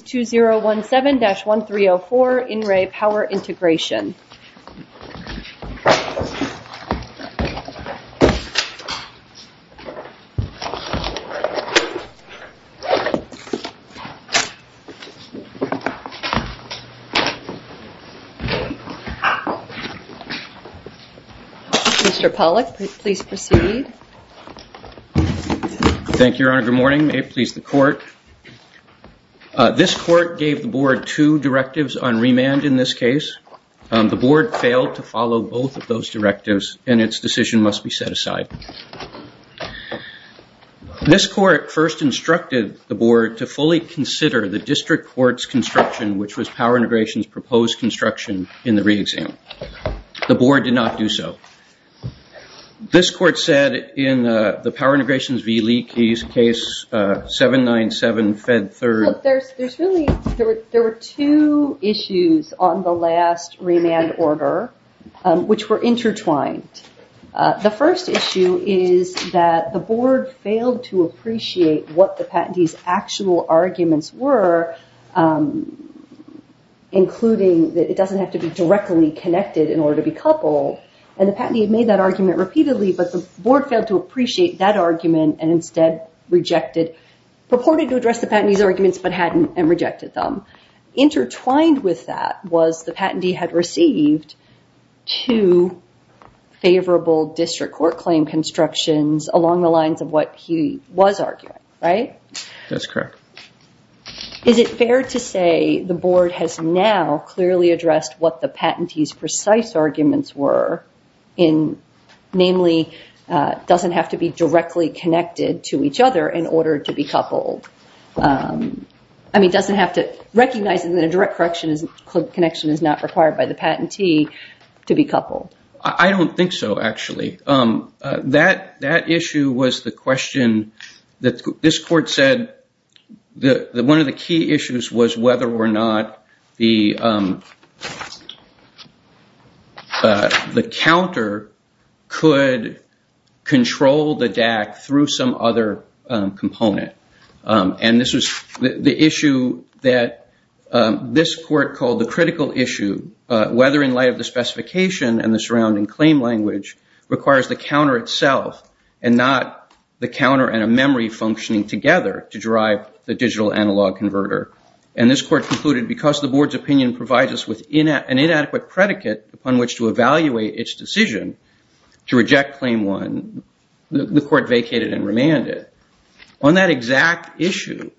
2017-1304 In Re Power Integration. Mr. Pollack, please proceed. Thank you, Your Honor. Good morning. May it please the Court. This Court gave the Board two directives on remand in this case. The Board failed to follow both of those directives, and its decision must be set aside. This Court first instructed the Board to fully consider the District Court's construction, which was Power Integration's proposed construction in the re-exam. The Board did not do so. This Court said in the Power Integrations v. Leakey's case 797-Fed-3rd There were two issues on the last remand order, which were intertwined. The first issue is that the Board failed to appreciate what the patentee's actual arguments were, including that it doesn't have to be directly connected in order to be coupled, and the patentee had made that argument repeatedly, but the Board failed to appreciate that argument and instead rejected, purported to address the patentee's arguments, but hadn't, and rejected them. Intertwined with that was the patentee had received two favorable District Court claim constructions along the lines of what he was arguing, right? That's correct. Is it fair to say the Board has now clearly addressed what the patentee's precise arguments were in, namely, doesn't have to be directly connected to each other in order to be coupled? I mean, doesn't have to recognize that a direct connection is not required by the patentee to be coupled? I don't think so, actually. That issue was the question that this Court said one of the key issues was whether or not the counter could control the DAC through some other component, and this was the issue that this Court called the critical issue, whether in light of the specification and the surrounding claim language requires the counter itself and not the counter and a memory functioning together to drive the digital analog converter. And this Court concluded because the Board's opinion provides us with an inadequate predicate upon which to evaluate its decision to reject claim one, the Court vacated and remanded. On that exact issue,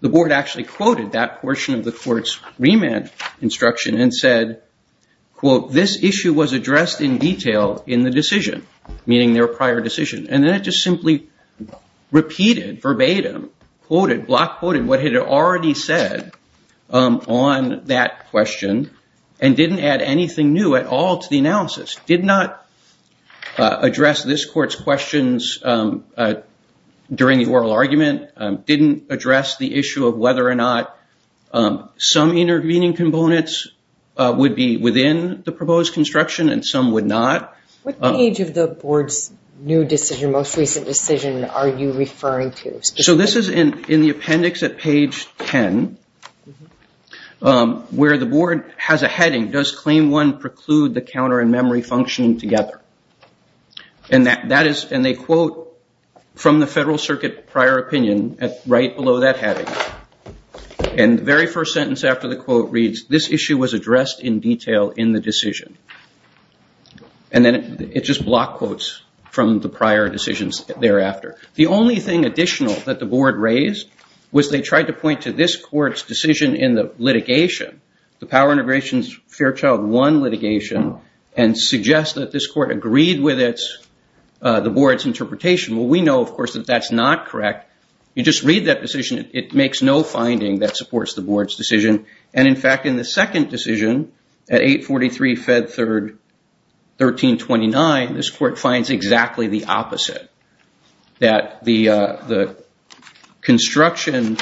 the Board actually quoted that portion of the Court's remand instruction and said, quote, this issue was addressed in detail in the decision, meaning their prior decision. And then it just simply repeated verbatim, quoted, block quoted what it had already said on that question and didn't add anything new at all to the analysis. Did not address this Court's questions during the oral argument, didn't address the issue of whether or not some intervening components would be within the proposed construction and some would not. What page of the Board's new decision, most recent decision are you referring to? So this is in the appendix at page 10, where the Board has a heading, does claim one preclude the counter and memory functioning together? And that is, and they quote from the Federal Circuit prior opinion right below that heading. And the very first sentence after the quote reads, this issue was addressed in detail in the decision. And then it just block quotes from the prior decisions thereafter. The only thing additional that the Board raised was they tried to point to this Court's decision in the litigation, the Power Integrations Fairchild 1 litigation, and suggest that this Court agreed with the Board's interpretation. Well, we know, of course, that that's not correct. You just read that decision, it makes no finding that supports the Board's decision. And in fact, in the second decision, at 843 Fed Third 1329, this Court finds exactly the opposite, that the construction,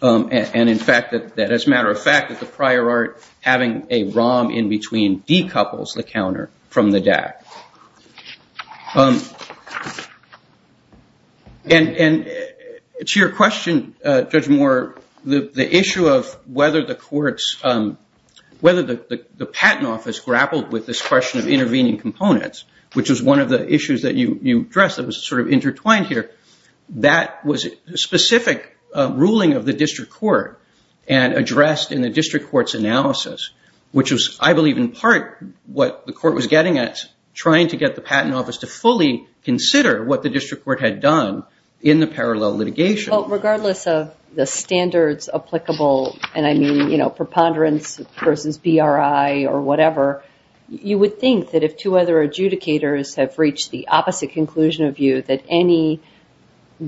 and in fact, that as a matter of fact, that the prior art having a ROM in between decouples the counter from the DAC. And to your question, Judge Moore, the issue of whether the patent office grappled with this question of intervening components, which is one of the issues that you addressed that was sort of intertwined here, that was a specific ruling of the District Court and addressed in the District Court's analysis, which was, I believe, in part what the Court was getting at trying to get the patent office to fully consider what the District Court had done in the parallel litigation. Regardless of the standards applicable, and I mean preponderance versus BRI or whatever, you would think that if two other adjudicators have reached the opposite conclusion of view, that any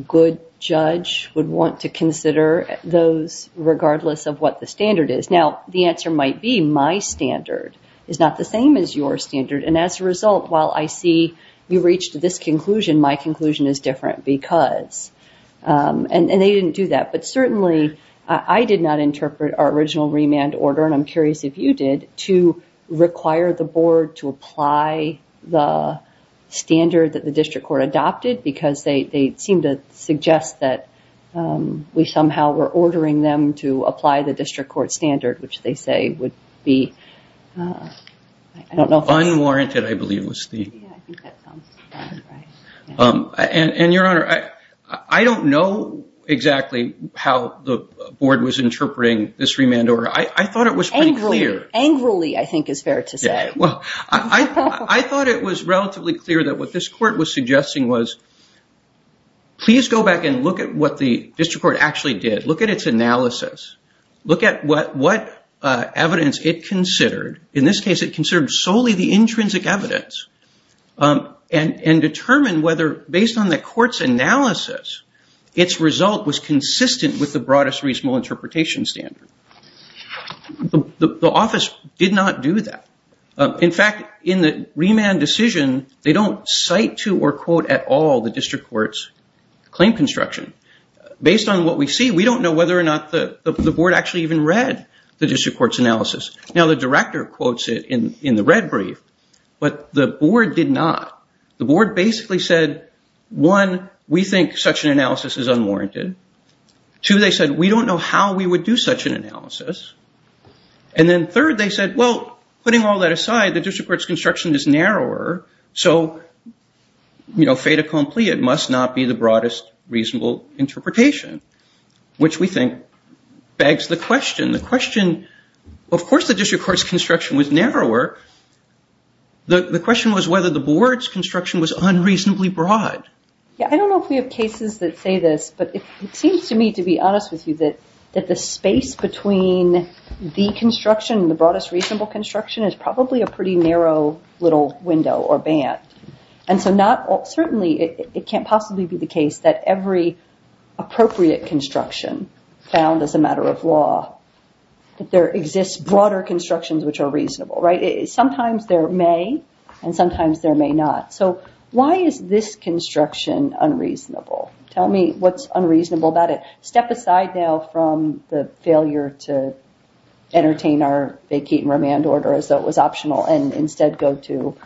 good judge would want to consider those regardless of what the standard is. Now, the answer might be, my standard is not the same as your standard, and as a result, while I see you reached this conclusion, my conclusion is different because, and they didn't do that, but certainly, I did not interpret our original remand order, and I'm curious if you did, to require the Board to apply the standard that the District Court adopted because they seemed to suggest that we somehow were ordering them to apply the District Court standard, which they say would be, I don't know if that's true. Unwarranted, I believe, was the... Yeah, I think that sounds about right. And Your Honor, I don't know exactly how the Board was interpreting this remand order. I thought it was pretty clear. Angrily, I think is fair to say. I thought it was relatively clear that what this Court was suggesting was, please go back and look at what the District Court actually did. Look at its analysis. Look at what evidence it considered. In this case, it considered solely the intrinsic evidence and determined whether, based on the Court's analysis, its result was consistent with the broadest reasonable interpretation standard. The Office did not do that. In fact, in the remand decision, they don't cite to or quote at all the District Court's claim construction. Based on what we see, we don't know whether or not the Board actually even read the District Court's analysis. Now, the Director quotes it in the red brief, but the Board did not. The Board basically said, one, we think such an analysis is unwarranted. Two, they said, we don't know how we would do such an analysis. And then third, they said, well, putting all that aside, the District Court's construction is narrower, so fait accompli, it must not be the broadest reasonable interpretation, which we think begs the question. The question, of course the District Court's construction was narrower. However, the question was whether the Board's construction was unreasonably broad. I don't know if we have cases that say this, but it seems to me, to be honest with you, that the space between the construction, the broadest reasonable construction, is probably a pretty narrow little window or band. And so certainly, it can't possibly be the case that every appropriate construction found as a matter of law, that there exists broader constructions which are reasonable, right? Sometimes there may, and sometimes there may not. So why is this construction unreasonable? Tell me what's unreasonable about it. Step aside now from the failure to entertain our vacate and remand order as though it was optional and instead go to,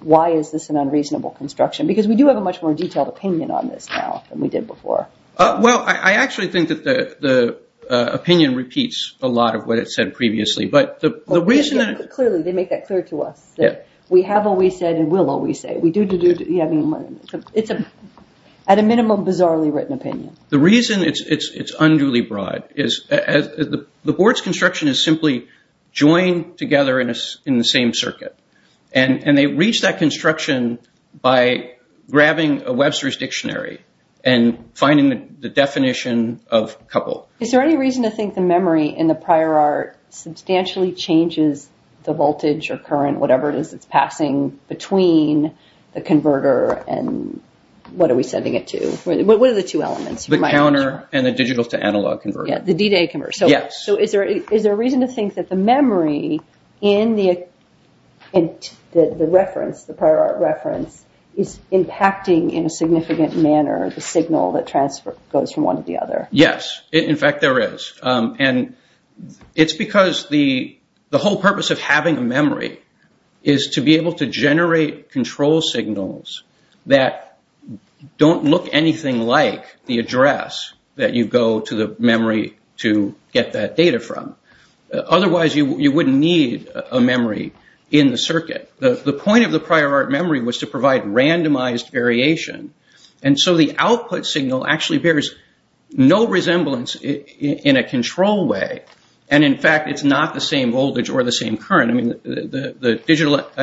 why is this an unreasonable construction? Because we do have a much more detailed opinion on this now than we did before. Well, I actually think that the opinion repeats a lot of what it said previously. But the reason that- Clearly, they make that clear to us. We have always said and will always say. We do, do, do, do, yeah, I mean, it's a, at a minimum, bizarrely written opinion. The reason it's unduly broad is the Board's construction is simply joined together in the same circuit. And they reach that construction by grabbing a Webster's Dictionary and finding the definition of couple. Is there any reason to think the memory in the prior art substantially changes the voltage or current, whatever it is that's passing between the converter and what are we sending it to? What are the two elements? The counter and the digital to analog converter. Yeah, the D-to-A converter. Yes. So, is there a reason to think that the memory in the reference, the prior art reference, is impacting in a significant manner the signal that transfer goes from one to the other? Yes, in fact, there is. And it's because the whole purpose of having a memory is to be able to generate control signals that don't look anything like the address that you go to the memory to get that data from. Otherwise, you wouldn't need a memory in the circuit. The point of the prior art memory was to provide randomized variation. And so, the output signal actually bears no resemblance in a control way. And in fact, it's not the same voltage or the same current. I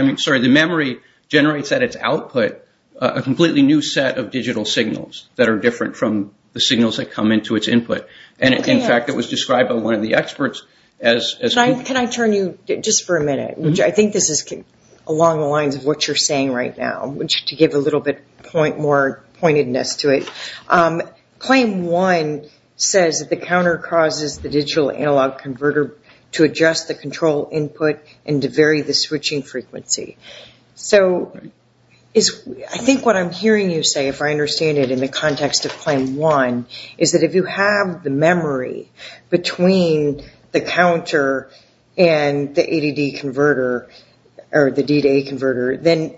mean, sorry, the memory generates at its output a completely new set of digital signals that are different from the signals that come into its input. And in fact, it was described by one of the experts as... Can I turn you, just for a minute, which I think this is along the lines of what you're saying right now, which to give a little bit more pointedness to it. Claim one says that the counter causes the digital analog converter to adjust the control input and to vary the switching frequency. So, I think what I'm hearing you say, if I understand it in the context of claim one, is that if you have the memory between the counter and the ADD converter or the D to A converter, then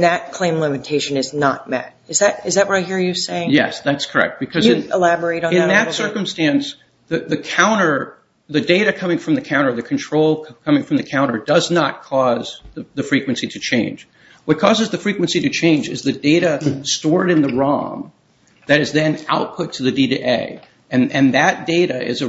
that claim limitation is not met. Is that what I hear you saying? Yes, that's correct. Can you elaborate on that a little bit? In that circumstance, the data coming from the counter, the control coming from the counter, does not cause the frequency to change. What causes the frequency to change is the data stored in the ROM that is then output to the D to A. And that data is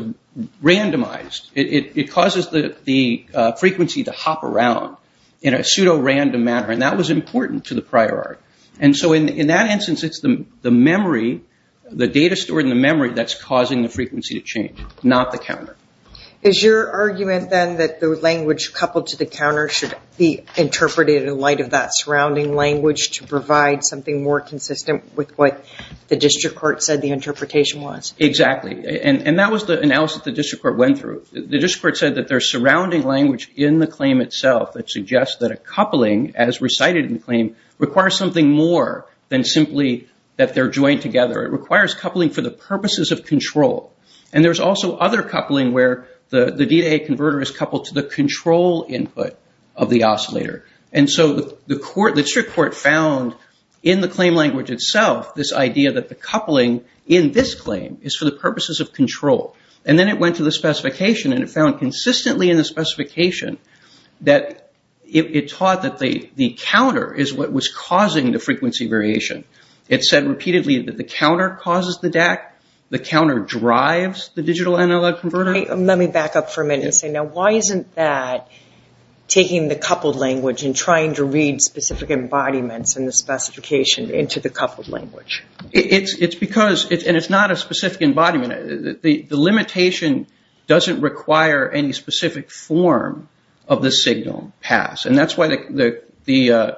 randomized. It causes the frequency to hop around in a pseudo-random manner. And that was important to the prior art. And so, in that instance, it's the memory, the data stored in the memory, that's causing the frequency to change, not the counter. Is your argument then that the language coupled to the counter should be interpreted in light of that surrounding language to provide something more consistent with what the district court said the interpretation was? Exactly. And that was the analysis the district court went through. The district court said that there's surrounding language in the claim itself that suggests that a coupling, as recited in the claim, requires something more than simply that they're joined together. It requires coupling for the purposes of control. And there's also other coupling where the D to A converter is coupled to the control input of the oscillator. And so, the court, the district court found in the claim language itself this idea that the coupling in this claim is for the purposes of control. And then it went to the specification and it found consistently in the specification that it taught that the counter is what was causing the frequency variation. It said repeatedly that the counter causes the DAC. The counter drives the digital analog converter. Let me back up for a minute and say, now, why isn't that taking the coupled language and trying to read specific embodiments in the specification into the coupled language? It's because, and it's not a specific embodiment, the limitation doesn't require any specific form of the signal pass. And that's why the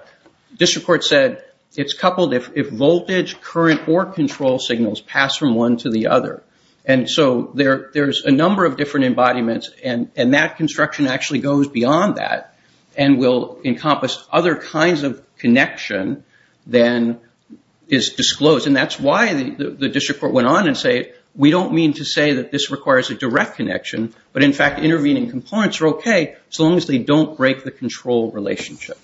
district court said it's coupled if voltage, current, or control signals pass from one to the other. And so, there's a number of different embodiments and that construction actually goes beyond that and will encompass other kinds of connection than is disclosed. And that's why the district court went on and said, we don't mean to say that this requires a direct connection, but in fact, intervening components are okay so long as they don't break the control relationship.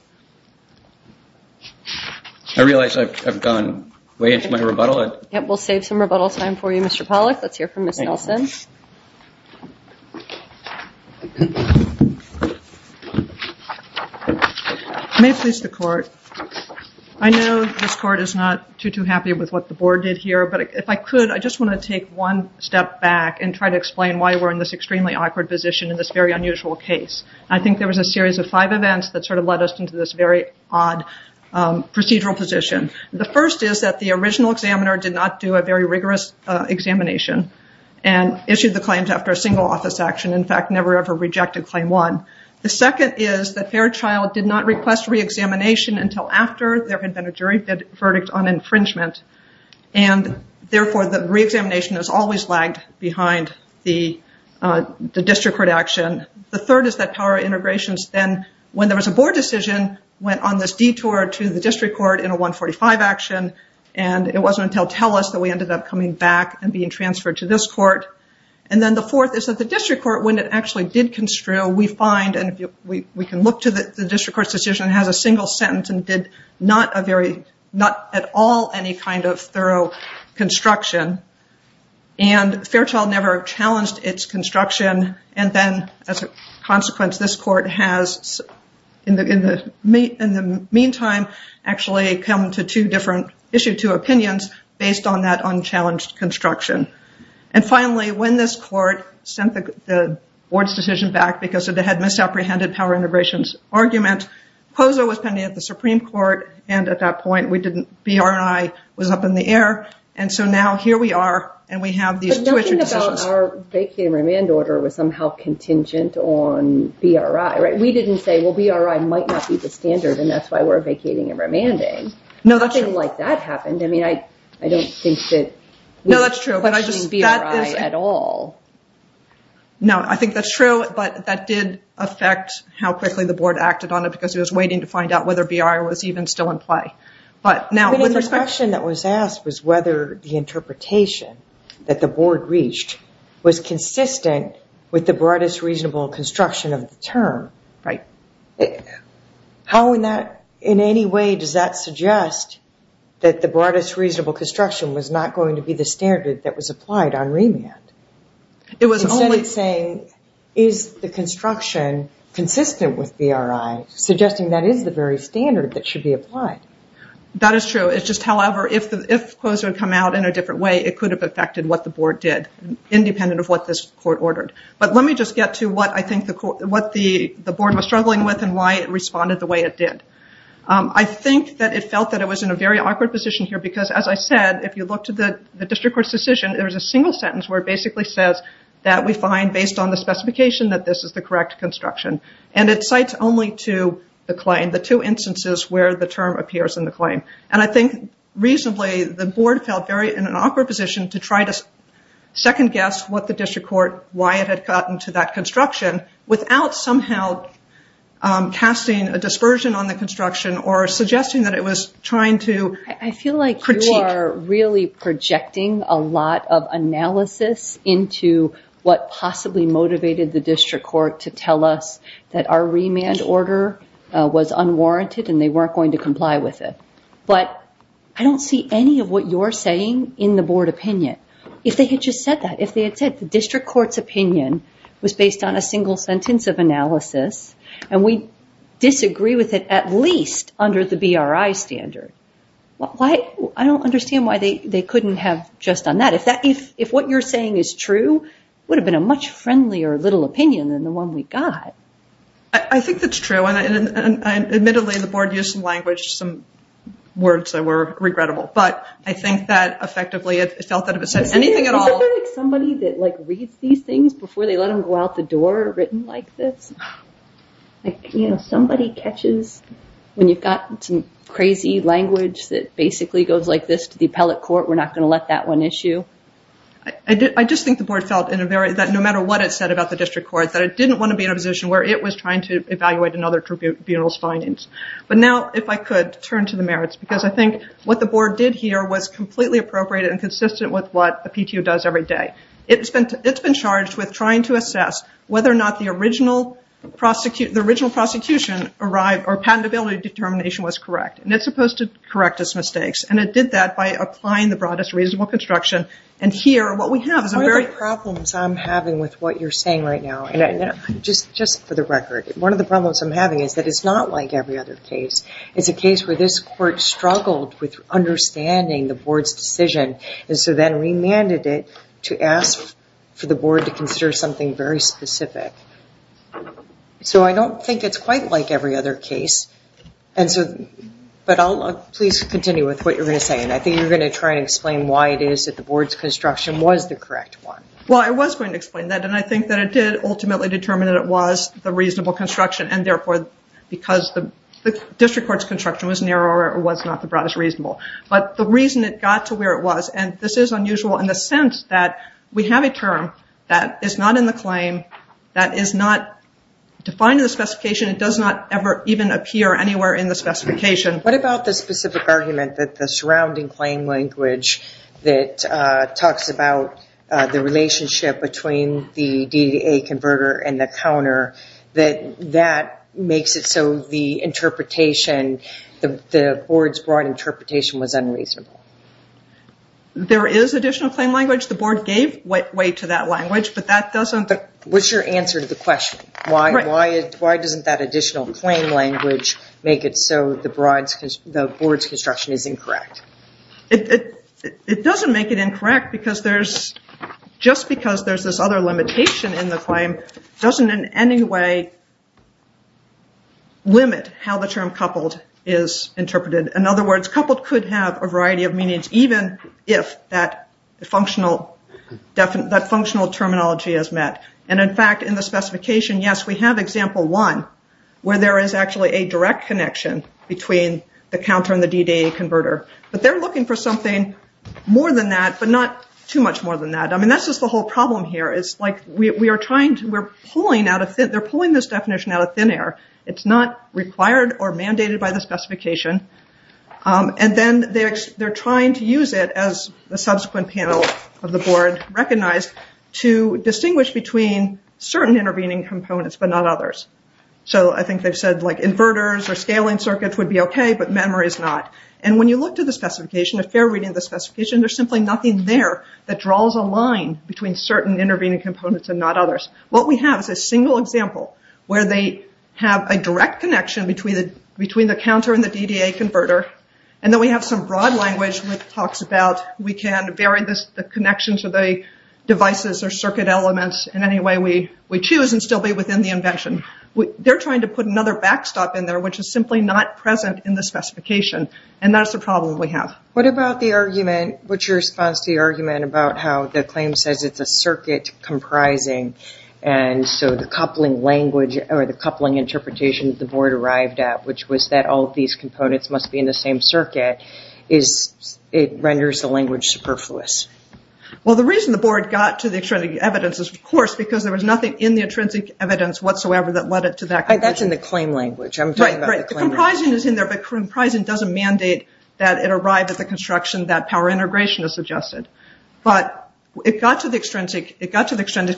I realize I've gone way into my rebuttal. Yeah, we'll save some rebuttal time for you, Mr. Pollack. Let's hear from Ms. Nelson. May it please the court. I know this court is not too, too happy with what the board did here, but if I could, I just want to take one step back and try to explain why we're in this extremely awkward position in this very unusual case. I think there was a series of five events that sort of led us into this very odd procedural position. The first is that the original examiner did not do a very rigorous examination and issued the claims after a single office action. In fact, never, ever rejected claim one. The second is that Fairchild did not request reexamination until after there had been a jury verdict on infringement. And therefore, the reexamination has always lagged behind the district court action. The third is that power integrations then, when there was a board decision, went on this detour to the district court in a 145 action. And it wasn't until Telus that we ended up coming back and being transferred to this court. And then the fourth is that the district court, when it actually did construe, we find, and we can look to the district court's decision, has a single sentence and did not at all any kind of thorough construction. And Fairchild never challenged its construction. And then, as a consequence, this court has, in the meantime, actually come to two different, issued two opinions based on that unchallenged construction. And finally, when this court sent the board's decision back because it had misapprehended power integrations argument, POSA was pending at the Supreme Court. And at that point, we didn't, BRI was up in the air. And so now here we are, and we have these two issued decisions. But nothing about our vacating remand order was somehow contingent on BRI, right? We didn't say, well, BRI might not be the standard. And that's why we're vacating and remanding. No, that's true. Nothing like that happened. I mean, I don't think that. No, that's true. But I just, that is. I'm not questioning BRI at all. No, I think that's true. But that did affect how quickly the board acted on it because it was waiting to find out whether BRI was even still in play. But now, with respect. But if the question that was asked was whether the interpretation that the board reached was consistent with the broadest reasonable construction of the term. Right. How in that, in any way, does that suggest that the broadest reasonable construction was not going to be the standard that was applied on remand? It was only saying, is the construction consistent with BRI? Suggesting that is the very standard that should be applied. That is true. It's just, however, if COSA had come out in a different way, it could have affected what the board did, independent of what this court ordered. But let me just get to what I think the board was struggling with and why it responded the way it did. I think that it felt that it was in a very awkward position here because, as I said, if you look to the district court's decision, there's a single sentence where it basically says that we find, based on the specification, that this is the correct construction. And it cites only to the claim, the two instances where the term appears in the claim. And I think, reasonably, the board felt very in an awkward position to try to second guess what the district court, why it had gotten to that construction, without somehow casting a dispersion on the construction or suggesting that it was trying to- I feel like you are really projecting a lot of analysis into what possibly motivated the district court to tell us that our remand order was unwarranted and they weren't going to comply with it. But I don't see any of what you're saying in the board opinion. If they had just said that, if they had said the district court's opinion was based on a single sentence of analysis, and we disagree with it at least under the BRI standard, I don't understand why they couldn't have just done that. If what you're saying is true, it would have been a much friendlier little opinion than the one we got. I think that's true. And, admittedly, the board used some language, some words that were regrettable. But I think that, effectively, it felt that if it said anything at all- Is it like somebody that, like, reads these things before they let them go out the door written like this? Like, you know, somebody catches- When you've got some crazy language that basically goes like this to the appellate court, we're not going to let that one issue? I just think the board felt that no matter what it said about the district court, that it didn't want to be in a position where it was trying to evaluate another tribunal's findings. But now, if I could, turn to the merits, because I think what the board did here was completely appropriate and consistent with what the PTO does every day. It's been charged with trying to assess whether or not the original prosecution arrived, or patentability determination was correct. And it's supposed to correct its mistakes. And it did that by applying the broadest reasonable construction. And here, what we have is a very- One of the problems I'm having with what you're saying right now, and just for the record, one of the problems I'm having is that it's not like every other case. It's a case where this court struggled with understanding the board's decision, and so then remanded it to ask for the board to consider something very specific. So I don't think it's quite like every other case. But please continue with what you're going to say. And I think you're going to try and explain why it is that the board's construction was the correct one. Well, I was going to explain that. And I think that it did ultimately determine that it was the reasonable construction. And therefore, because the district court's construction was narrower, it was not the broadest reasonable. But the reason it got to where it was, and this is unusual in the sense that we have a term that is not in the claim, that is not defined in the specification, it does not ever even appear anywhere in the specification. What about the specific argument that the surrounding claim language that talks about the relationship between the DDA converter and the counter, that that makes it so the interpretation, the board's broad interpretation was unreasonable? There is additional claim language. The board gave way to that language, but that doesn't... What's your answer to the question? Why doesn't that additional claim language make it so the board's construction is incorrect? It doesn't make it incorrect, because just because there's this other limitation in the claim doesn't in any way limit how the term coupled is interpreted. In other words, coupled could have a variety of meanings, even if that functional terminology is met. And in fact, in the specification, yes, we have example one, where there is actually a direct connection between the counter and the DDA converter. But they're looking for something more than that, but not too much more than that. I mean, that's just the whole problem here, is they're pulling this definition out of thin air. It's not required or mandated by the specification. And then they're trying to use it as the subsequent panel of the board recognized to distinguish between certain intervening components, but not others. So I think they've said, like, inverters or scaling circuits would be okay, but memory is not. And when you look to the specification, a fair reading of the specification, there's simply nothing there that draws a line between certain intervening components and not others. What we have is a single example where they have a direct connection between the counter and the DDA converter. And then we have some broad language which talks about we can vary the connection to the devices or circuit elements in any way we choose and still be within the invention. They're trying to put another backstop in there, which is simply not present in the specification. And that's the problem we have. What about the argument, what's your response to the argument about how the claim says it's a circuit comprising and so the coupling language or the coupling interpretation that the board arrived at, which was that all of these components must be in the same circuit, is it renders the language superfluous? Well, the reason the board got to the extrinsic evidence is, of course, because there was nothing in the intrinsic evidence whatsoever that led it to that conclusion. That's in the claim language. I'm talking about the claim language. The comprising is in there, but comprising doesn't mandate that it arrive at the construction that power integration is suggested. But it got to the extrinsic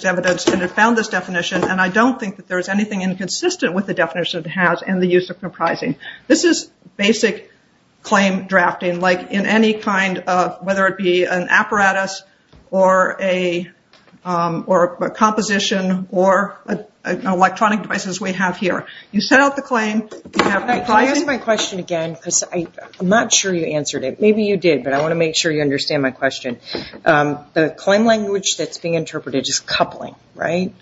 evidence and it found this definition, and I don't think that there's anything inconsistent with the definition it has in the use of comprising. This is basic claim drafting, like in any kind of, whether it be an apparatus or a composition or electronic devices we have here. You set out the claim, you have comprising. Can I ask my question again, because I'm not sure you answered it. Maybe you did, but I want to make sure you understand my question. The claim language that's being interpreted is coupling, right?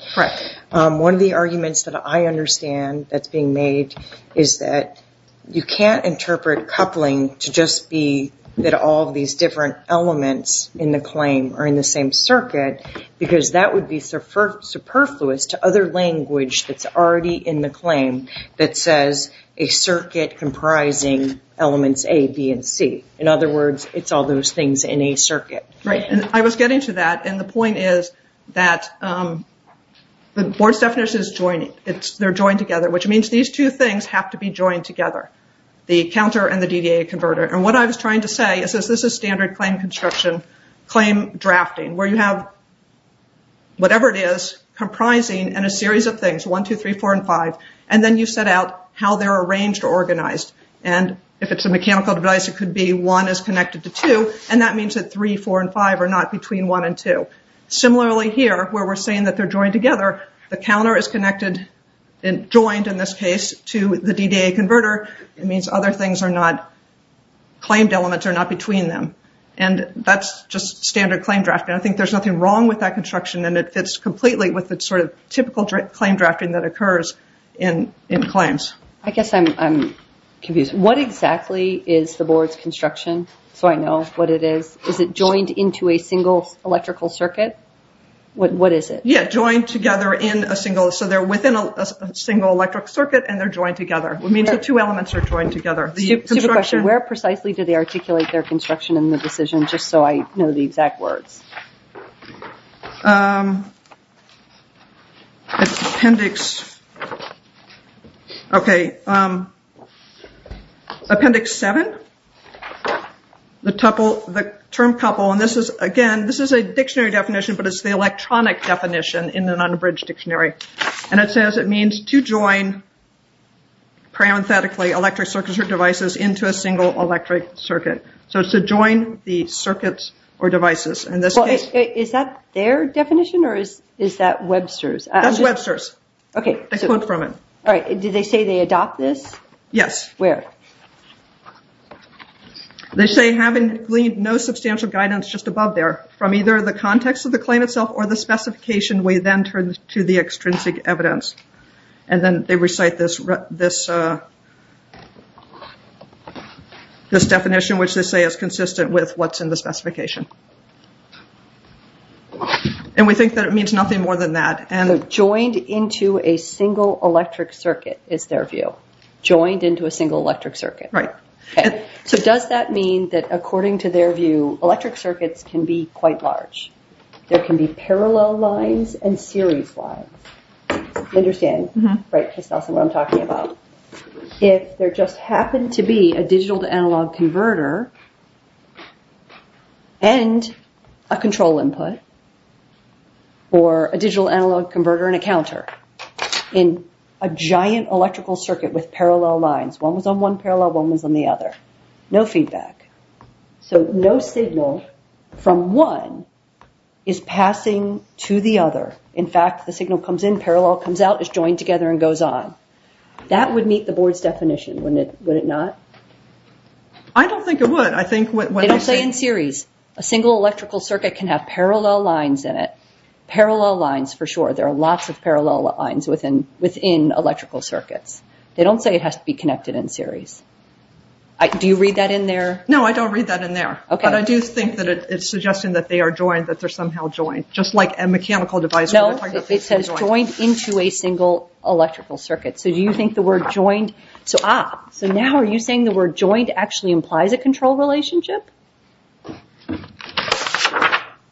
One of the arguments that I understand that's being made is that you can't interpret coupling to just be that all of these different elements in the claim are in the same circuit, because that would be superfluous to other language that's already in the claim that says a circuit comprising elements A, B, and C. In other words, it's all those things in a circuit. I was getting to that, and the point is that the board's definition is joining. They're joined together, which means these two things have to be joined together, the counter and the DDA converter. What I was trying to say is, this is standard claim construction, claim drafting, where you have whatever it is comprising in a series of things, one, two, three, four, and five, and then you set out how they're arranged or organized. If it's a mechanical device, it could be one is connected to two, and that means that three, four, and five are not between one and two. Similarly here, where we're saying that they're joined together, the counter is connected, joined in this case, to the DDA converter. It means other things are not, claimed elements are not between them. That's just standard claim drafting. I think there's nothing wrong with that construction, and it fits completely with the typical claim drafting that occurs in claims. I guess I'm confused. What exactly is the board's construction, so I know what it is? Is it joined into a single electrical circuit? What is it? Yeah, joined together in a single, so they're within a single electric circuit, and they're joined together. It means the two elements are joined together. Super question, where precisely did they articulate their construction in the decision, just so I know the exact words? It's appendix... Okay, appendix seven. The term couple, and this is, again, this is a dictionary definition, but it's the electronic definition in an unabridged dictionary. And it says it means to join, parenthetically, electric circuits or devices into a single electric circuit. So it's to join the circuits or devices, in this case. Is that their definition, or is that Webster's? That's Webster's. Okay. I quote from it. All right, did they say they adopt this? Yes. Where? They say having no substantial guidance just above there, from either the context of the claim itself or the specification, we then turn to the extrinsic evidence. And then they recite this definition, which they say is consistent with what's in the specification. And we think that it means nothing more than that. And joined into a single electric circuit is their view. Joined into a single electric circuit. Right. So does that mean that, according to their view, electric circuits can be quite large? There can be parallel lines and series lines. You understand, right, Christoffel, what I'm talking about? If there just happened to be a digital to analog converter and a control input, or a digital analog converter and a counter in a giant electrical circuit with parallel lines, one was on one parallel, one was on the other. No feedback. So no signal from one is passing to the other. In fact, the signal comes in, parallel comes out, is joined together and goes on. That would meet the board's definition, wouldn't it not? I don't think it would. I think what they say in series, a single electrical circuit can have parallel lines in it. Parallel lines for sure. There are lots of parallel lines within electrical circuits. They don't say it has to be connected in series. Do you read that in there? No, I don't read that in there. But I do think that it's suggesting that they are joined, that they're somehow joined, just like a mechanical device. No, it says joined into a single electrical circuit. So do you think the word joined, so ah, so now are you saying the word joined actually implies a control relationship?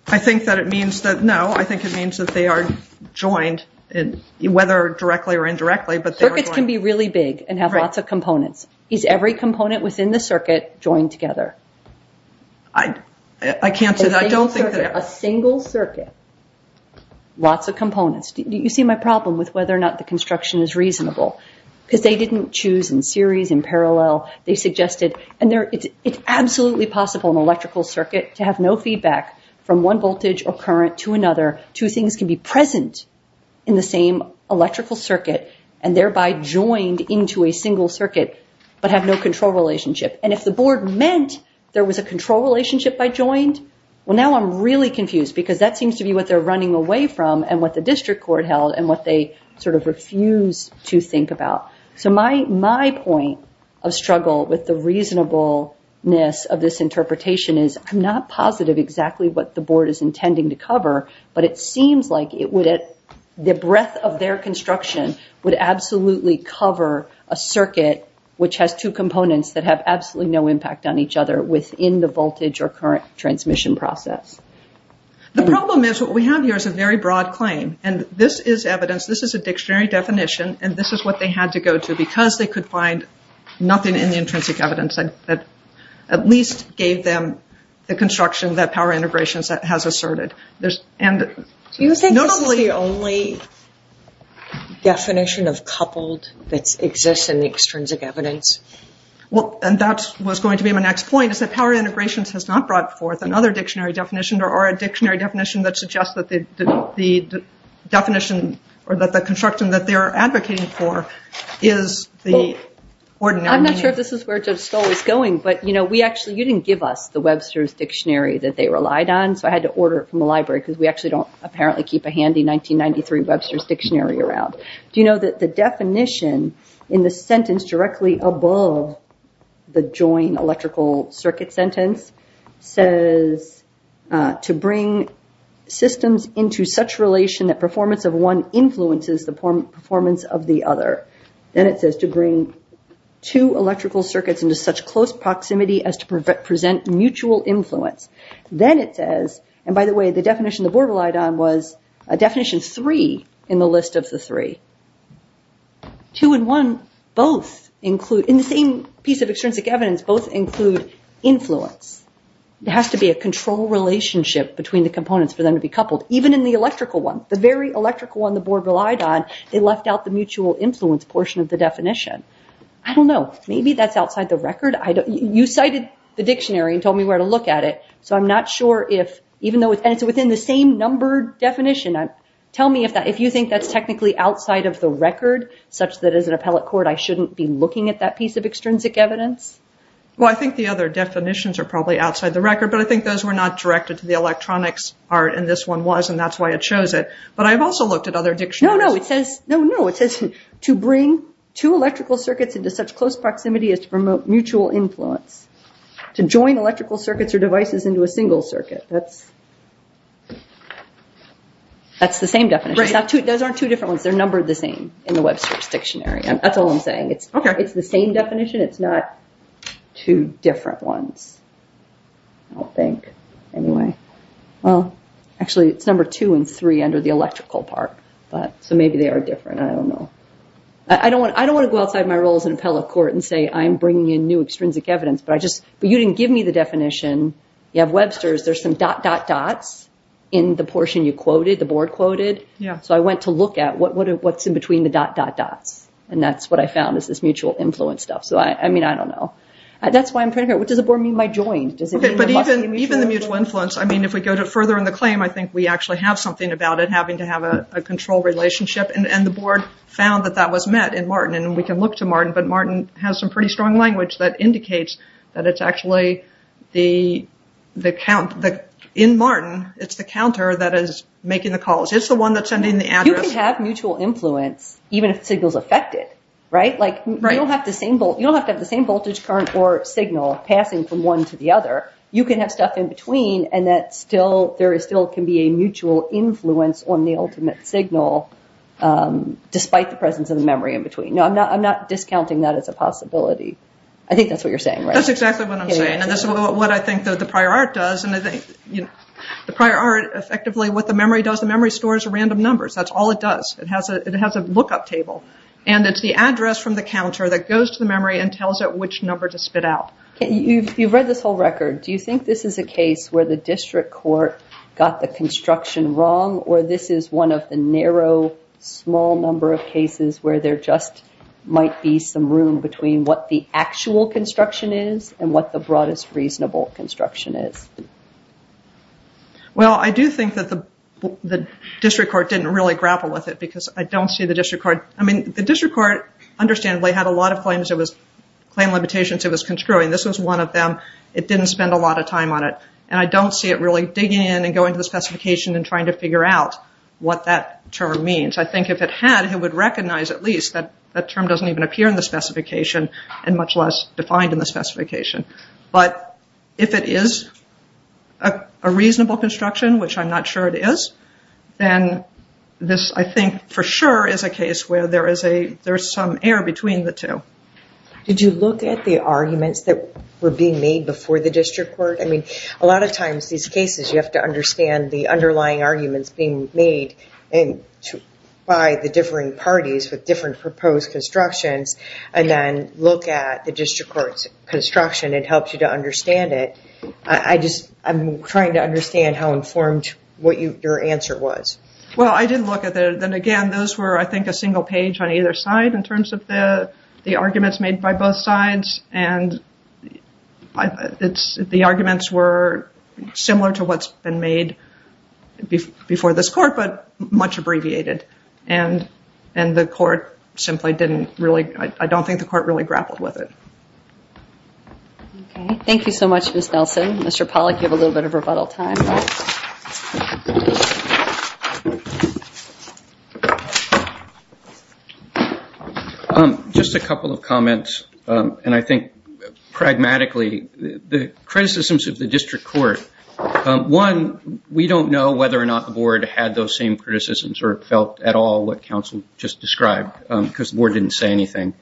I think that it means that, no, I think it means that they are joined, whether directly or indirectly. Circuits can be really big and have lots of components. Is every component within the circuit joined together? I can't say that. I don't think that. A single circuit, lots of components. You see my problem with whether or not the construction is reasonable, because they didn't choose in series, in parallel. They suggested, and it's absolutely possible in an electrical circuit to have no feedback from one voltage or current to another. Two things can be present in the same electrical circuit and thereby joined into a single circuit, but have no control relationship. And if the board meant there was a control relationship by joined, well, now I'm really confused because that seems to be what they're running away from and what the district court held and what they sort of refuse to think about. So my point of struggle with the reasonableness of this interpretation is, I'm not positive exactly what the board is intending to cover, but it seems like it would, the breadth of their construction would absolutely cover a circuit which has two components that have absolutely no impact on each other within the voltage or current transmission process. The problem is, what we have here is a very broad claim. And this is evidence, this is a dictionary definition, and this is what they had to go to because they could find nothing in the intrinsic evidence that at least gave them the construction that power integrations has asserted. Do you think this is the only definition of coupled that exists in the extrinsic evidence? Well, and that's what's going to be my next point is that power integrations has not brought forth another dictionary definition or a dictionary definition that suggests that the definition or that the construction that they are advocating for is the ordinary. I'm not sure if this is where Joe Stoll is going, but you know, we actually, you didn't give us the Webster's Dictionary that they relied on, so I had to order it from the library because we actually don't apparently keep a handy 1993 Webster's Dictionary around. Do you know that the definition in the sentence directly above the joint electrical circuit sentence says to bring systems into such relation that performance of one influences the performance of the other. Then it says to bring two electrical circuits into such close proximity as to present mutual influence. Then it says, and by the way, the definition the board relied on a definition three in the list of the three. Two and one both include, in the same piece of extrinsic evidence, both include influence. It has to be a control relationship between the components for them to be coupled. Even in the electrical one, the very electrical one the board relied on, they left out the mutual influence portion of the definition. I don't know. Maybe that's outside the record. You cited the dictionary and told me where to look at it, so I'm not sure if, even though it's within the same number definition, tell me if you think that's technically outside of the record, such that as an appellate court, I shouldn't be looking at that piece of extrinsic evidence. Well, I think the other definitions are probably outside the record, but I think those were not directed to the electronics art, and this one was, and that's why it shows it. But I've also looked at other dictionaries. No, no, it says, no, no. It says to bring two electrical circuits into such close proximity as to promote mutual influence. To join electrical circuits or devices into a single circuit. That's the same definition. Those aren't two different ones. They're numbered the same in the Webster's dictionary. That's all I'm saying. It's the same definition. It's not two different ones. I don't think. Anyway, well, actually, it's number two and three under the electrical part. So maybe they are different. I don't know. I don't want to go outside my roles in appellate court and say I'm bringing in new extrinsic evidence, but you didn't give me the definition. You have Webster's. There's some dot, dot, dots in the portion you quoted, the board quoted. So I went to look at what's in between the dot, dot, dots. And that's what I found is this mutual influence stuff. So, I mean, I don't know. That's why I'm pretty sure. What does the board mean by joined? Even the mutual influence. I mean, if we go further in the claim, I think we actually have something about it having to have a control relationship. And the board found that that was met in Martin. And we can look to Martin, but Martin has some pretty strong language that indicates that it's actually the count in Martin. It's the counter that is making the calls. It's the one that's sending the address. You can have mutual influence even if the signal is affected, right? Like, you don't have to have the same voltage current or signal passing from one to the other. You can have stuff in between and that still there is still can be a mutual influence on the ultimate signal despite the presence of the memory in between. No, I'm not. I'm not discounting that as a possibility. I think that's what you're saying, right? That's exactly what I'm saying. What I think that the prior art does and I think the prior art effectively what the memory does, the memory stores random numbers. That's all it does. It has a lookup table and it's the address from the counter that goes to the memory and tells it which number to spit out. You've read this whole record. Do you think this is a case where the district court got the construction wrong or this is one of the narrow, small number of cases where there just might be some room between what the actual construction is and what the broadest reasonable construction is? Well, I do think that the district court didn't really grapple with it because I don't see the district court. I mean, the district court understandably had a lot of claims. It was claim limitations. It was construing. This was one of them. It didn't spend a lot of time on it and I don't see it really digging in and going to the specification and trying to figure out what that term means. I think if it had, it would recognize at least that that term doesn't even appear in the specification and much less defined in the specification. But if it is a reasonable construction, which I'm not sure it is, then this I think for sure is a case where there is a, there's some air between the two. Did you look at the arguments that were being made before the district court? I mean, a lot of times these cases you have to understand the underlying arguments being made by the differing parties with different proposed constructions and then look at the district court's construction and helps you to understand it. I just, I'm trying to understand how informed what your answer was. Well, I did look at the, then again, those were I think a single page on either side in terms of the arguments made by both sides and the arguments were similar to what's been made before this court but much abbreviated and the court simply didn't really, I don't think the court really grappled with it. Okay, thank you so much, Ms. Nelson. Mr. Pollack, you have a little bit of rebuttal time. Just a couple of comments and I think pragmatically, the criticisms of the district court, one, we don't know whether or not the board had those same criticisms or felt at all what counsel just described because the board didn't say anything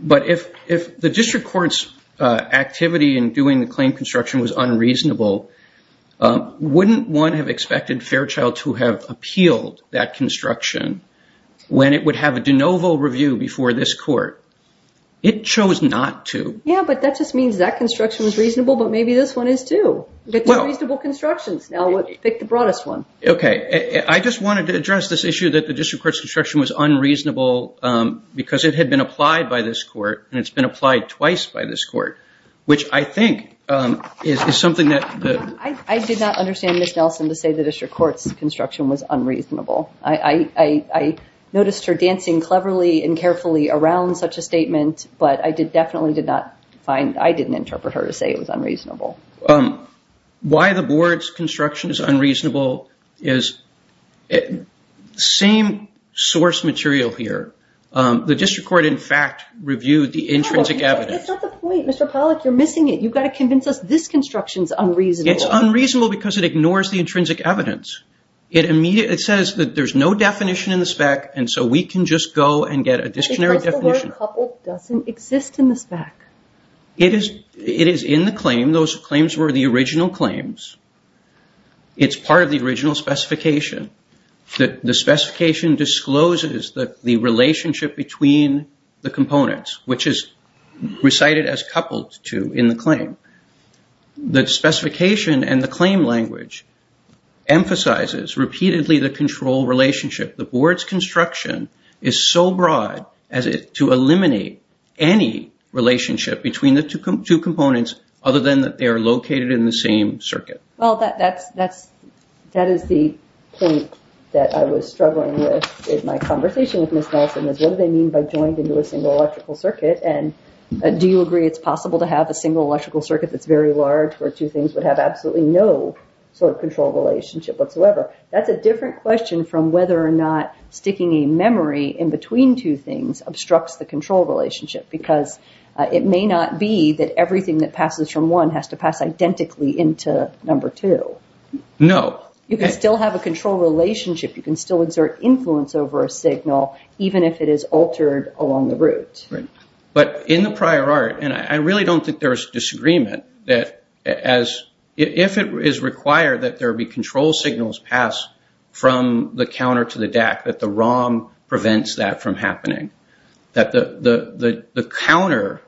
but if the district court's activity in doing the claim construction was unreasonable, wouldn't one have expected Fairchild to have appealed that construction when it would have a de novo review before this court? It chose not to. Yeah, but that just means that construction was reasonable but maybe this one is too. Get two reasonable constructions. Now, pick the broadest one. Okay, I just wanted to address this issue that the district court's construction was unreasonable because it had been applied by this court and it's been applied twice by this court, which I think is something that... I did not understand Ms. Nelson to say the district court's construction was unreasonable. I noticed her dancing cleverly and carefully around such a statement but I definitely did not find, I didn't interpret her to say it was unreasonable. Why the board's construction is unreasonable is the same source material here. The district court, in fact, reviewed the intrinsic evidence. That's not the point, Mr. Pollack. You're missing it. You've got to convince us this construction's unreasonable. It's unreasonable because it ignores the intrinsic evidence. It says that there's no definition in the spec and so we can just go and get a dictionary definition. Because the word couple doesn't exist in the spec. It is in the claim. Those claims were the original claims. It's part of the original specification. The specification discloses the relationship between the components, which is recited as coupled to in the claim. The specification and the claim language emphasizes repeatedly the control relationship. The board's construction is so broad as to eliminate any relationship between the two components other than that they are located in the same circuit. Well, that is the point that I was struggling with in my conversation with Ms. Nelson is what do they mean by joined into a single electrical circuit? And do you agree it's possible to have a single electrical circuit that's very large where two things would have absolutely no control relationship whatsoever? That's a different question from whether or not sticking a memory in between two things obstructs the control relationship because it may not be that everything that passes from one has to pass identically into number two. No. You can still have a control relationship. You can still insert influence over a signal even if it is altered along the route. But in the prior art, and I really don't think there's disagreement, that if it is required that there be control signals passed from the counter to the DAC, that the ROM prevents that from happening. That the counter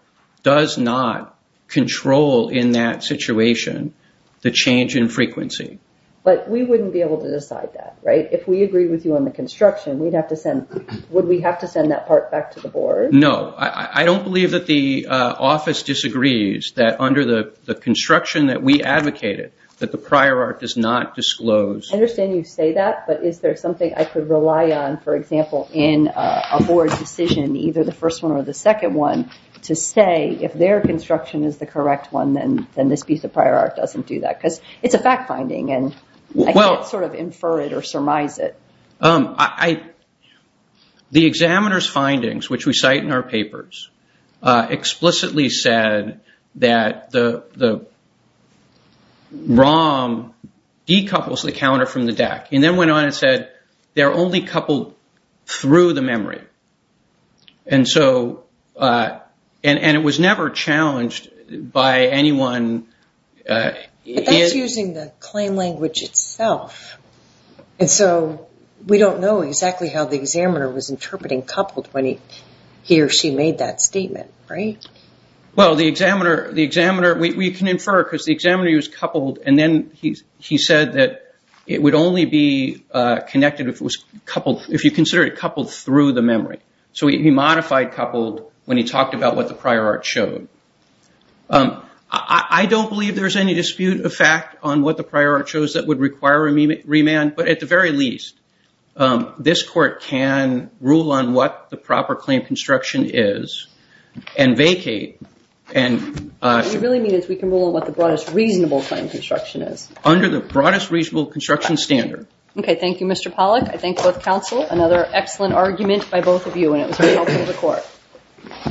does not control in that situation the change in frequency. But we wouldn't be able to decide that, right? If we agree with you on the construction, would we have to send that part back to the board? No, I don't believe that the office disagrees that under the construction that we advocated that the prior art does not disclose. I understand you say that, but is there something I could rely on, for example, in a board decision, either the first one or the second one, to say if their construction is the correct one, then this piece of prior art doesn't do that, because it's a fact finding and I can't sort of infer it or surmise it. The examiner's findings, which we cite in our papers, explicitly said that the ROM decouples the counter from the DAC, and then went on and said, they're only coupled through the memory. And so, and it was never challenged by anyone. That's using the claim language itself. And so, we don't know exactly how the examiner was interpreting coupled when he or she made that statement, right? Well, the examiner, the examiner, we can infer because the examiner was coupled and then he said that it would only be connected if it was coupled, if you consider it coupled through the memory. So, he modified coupled when he talked about what the prior art showed. I don't believe there's any dispute of fact on what the prior art shows that would require a remand, but at the very least, this court can rule on what the proper claim construction is and vacate and- What we really mean is we can rule on what the broadest reasonable claim construction is. Under the broadest reasonable construction standard. Okay, thank you, Mr. Pollack. I thank both counsel. Another excellent argument by both of you and it was very helpful to the court.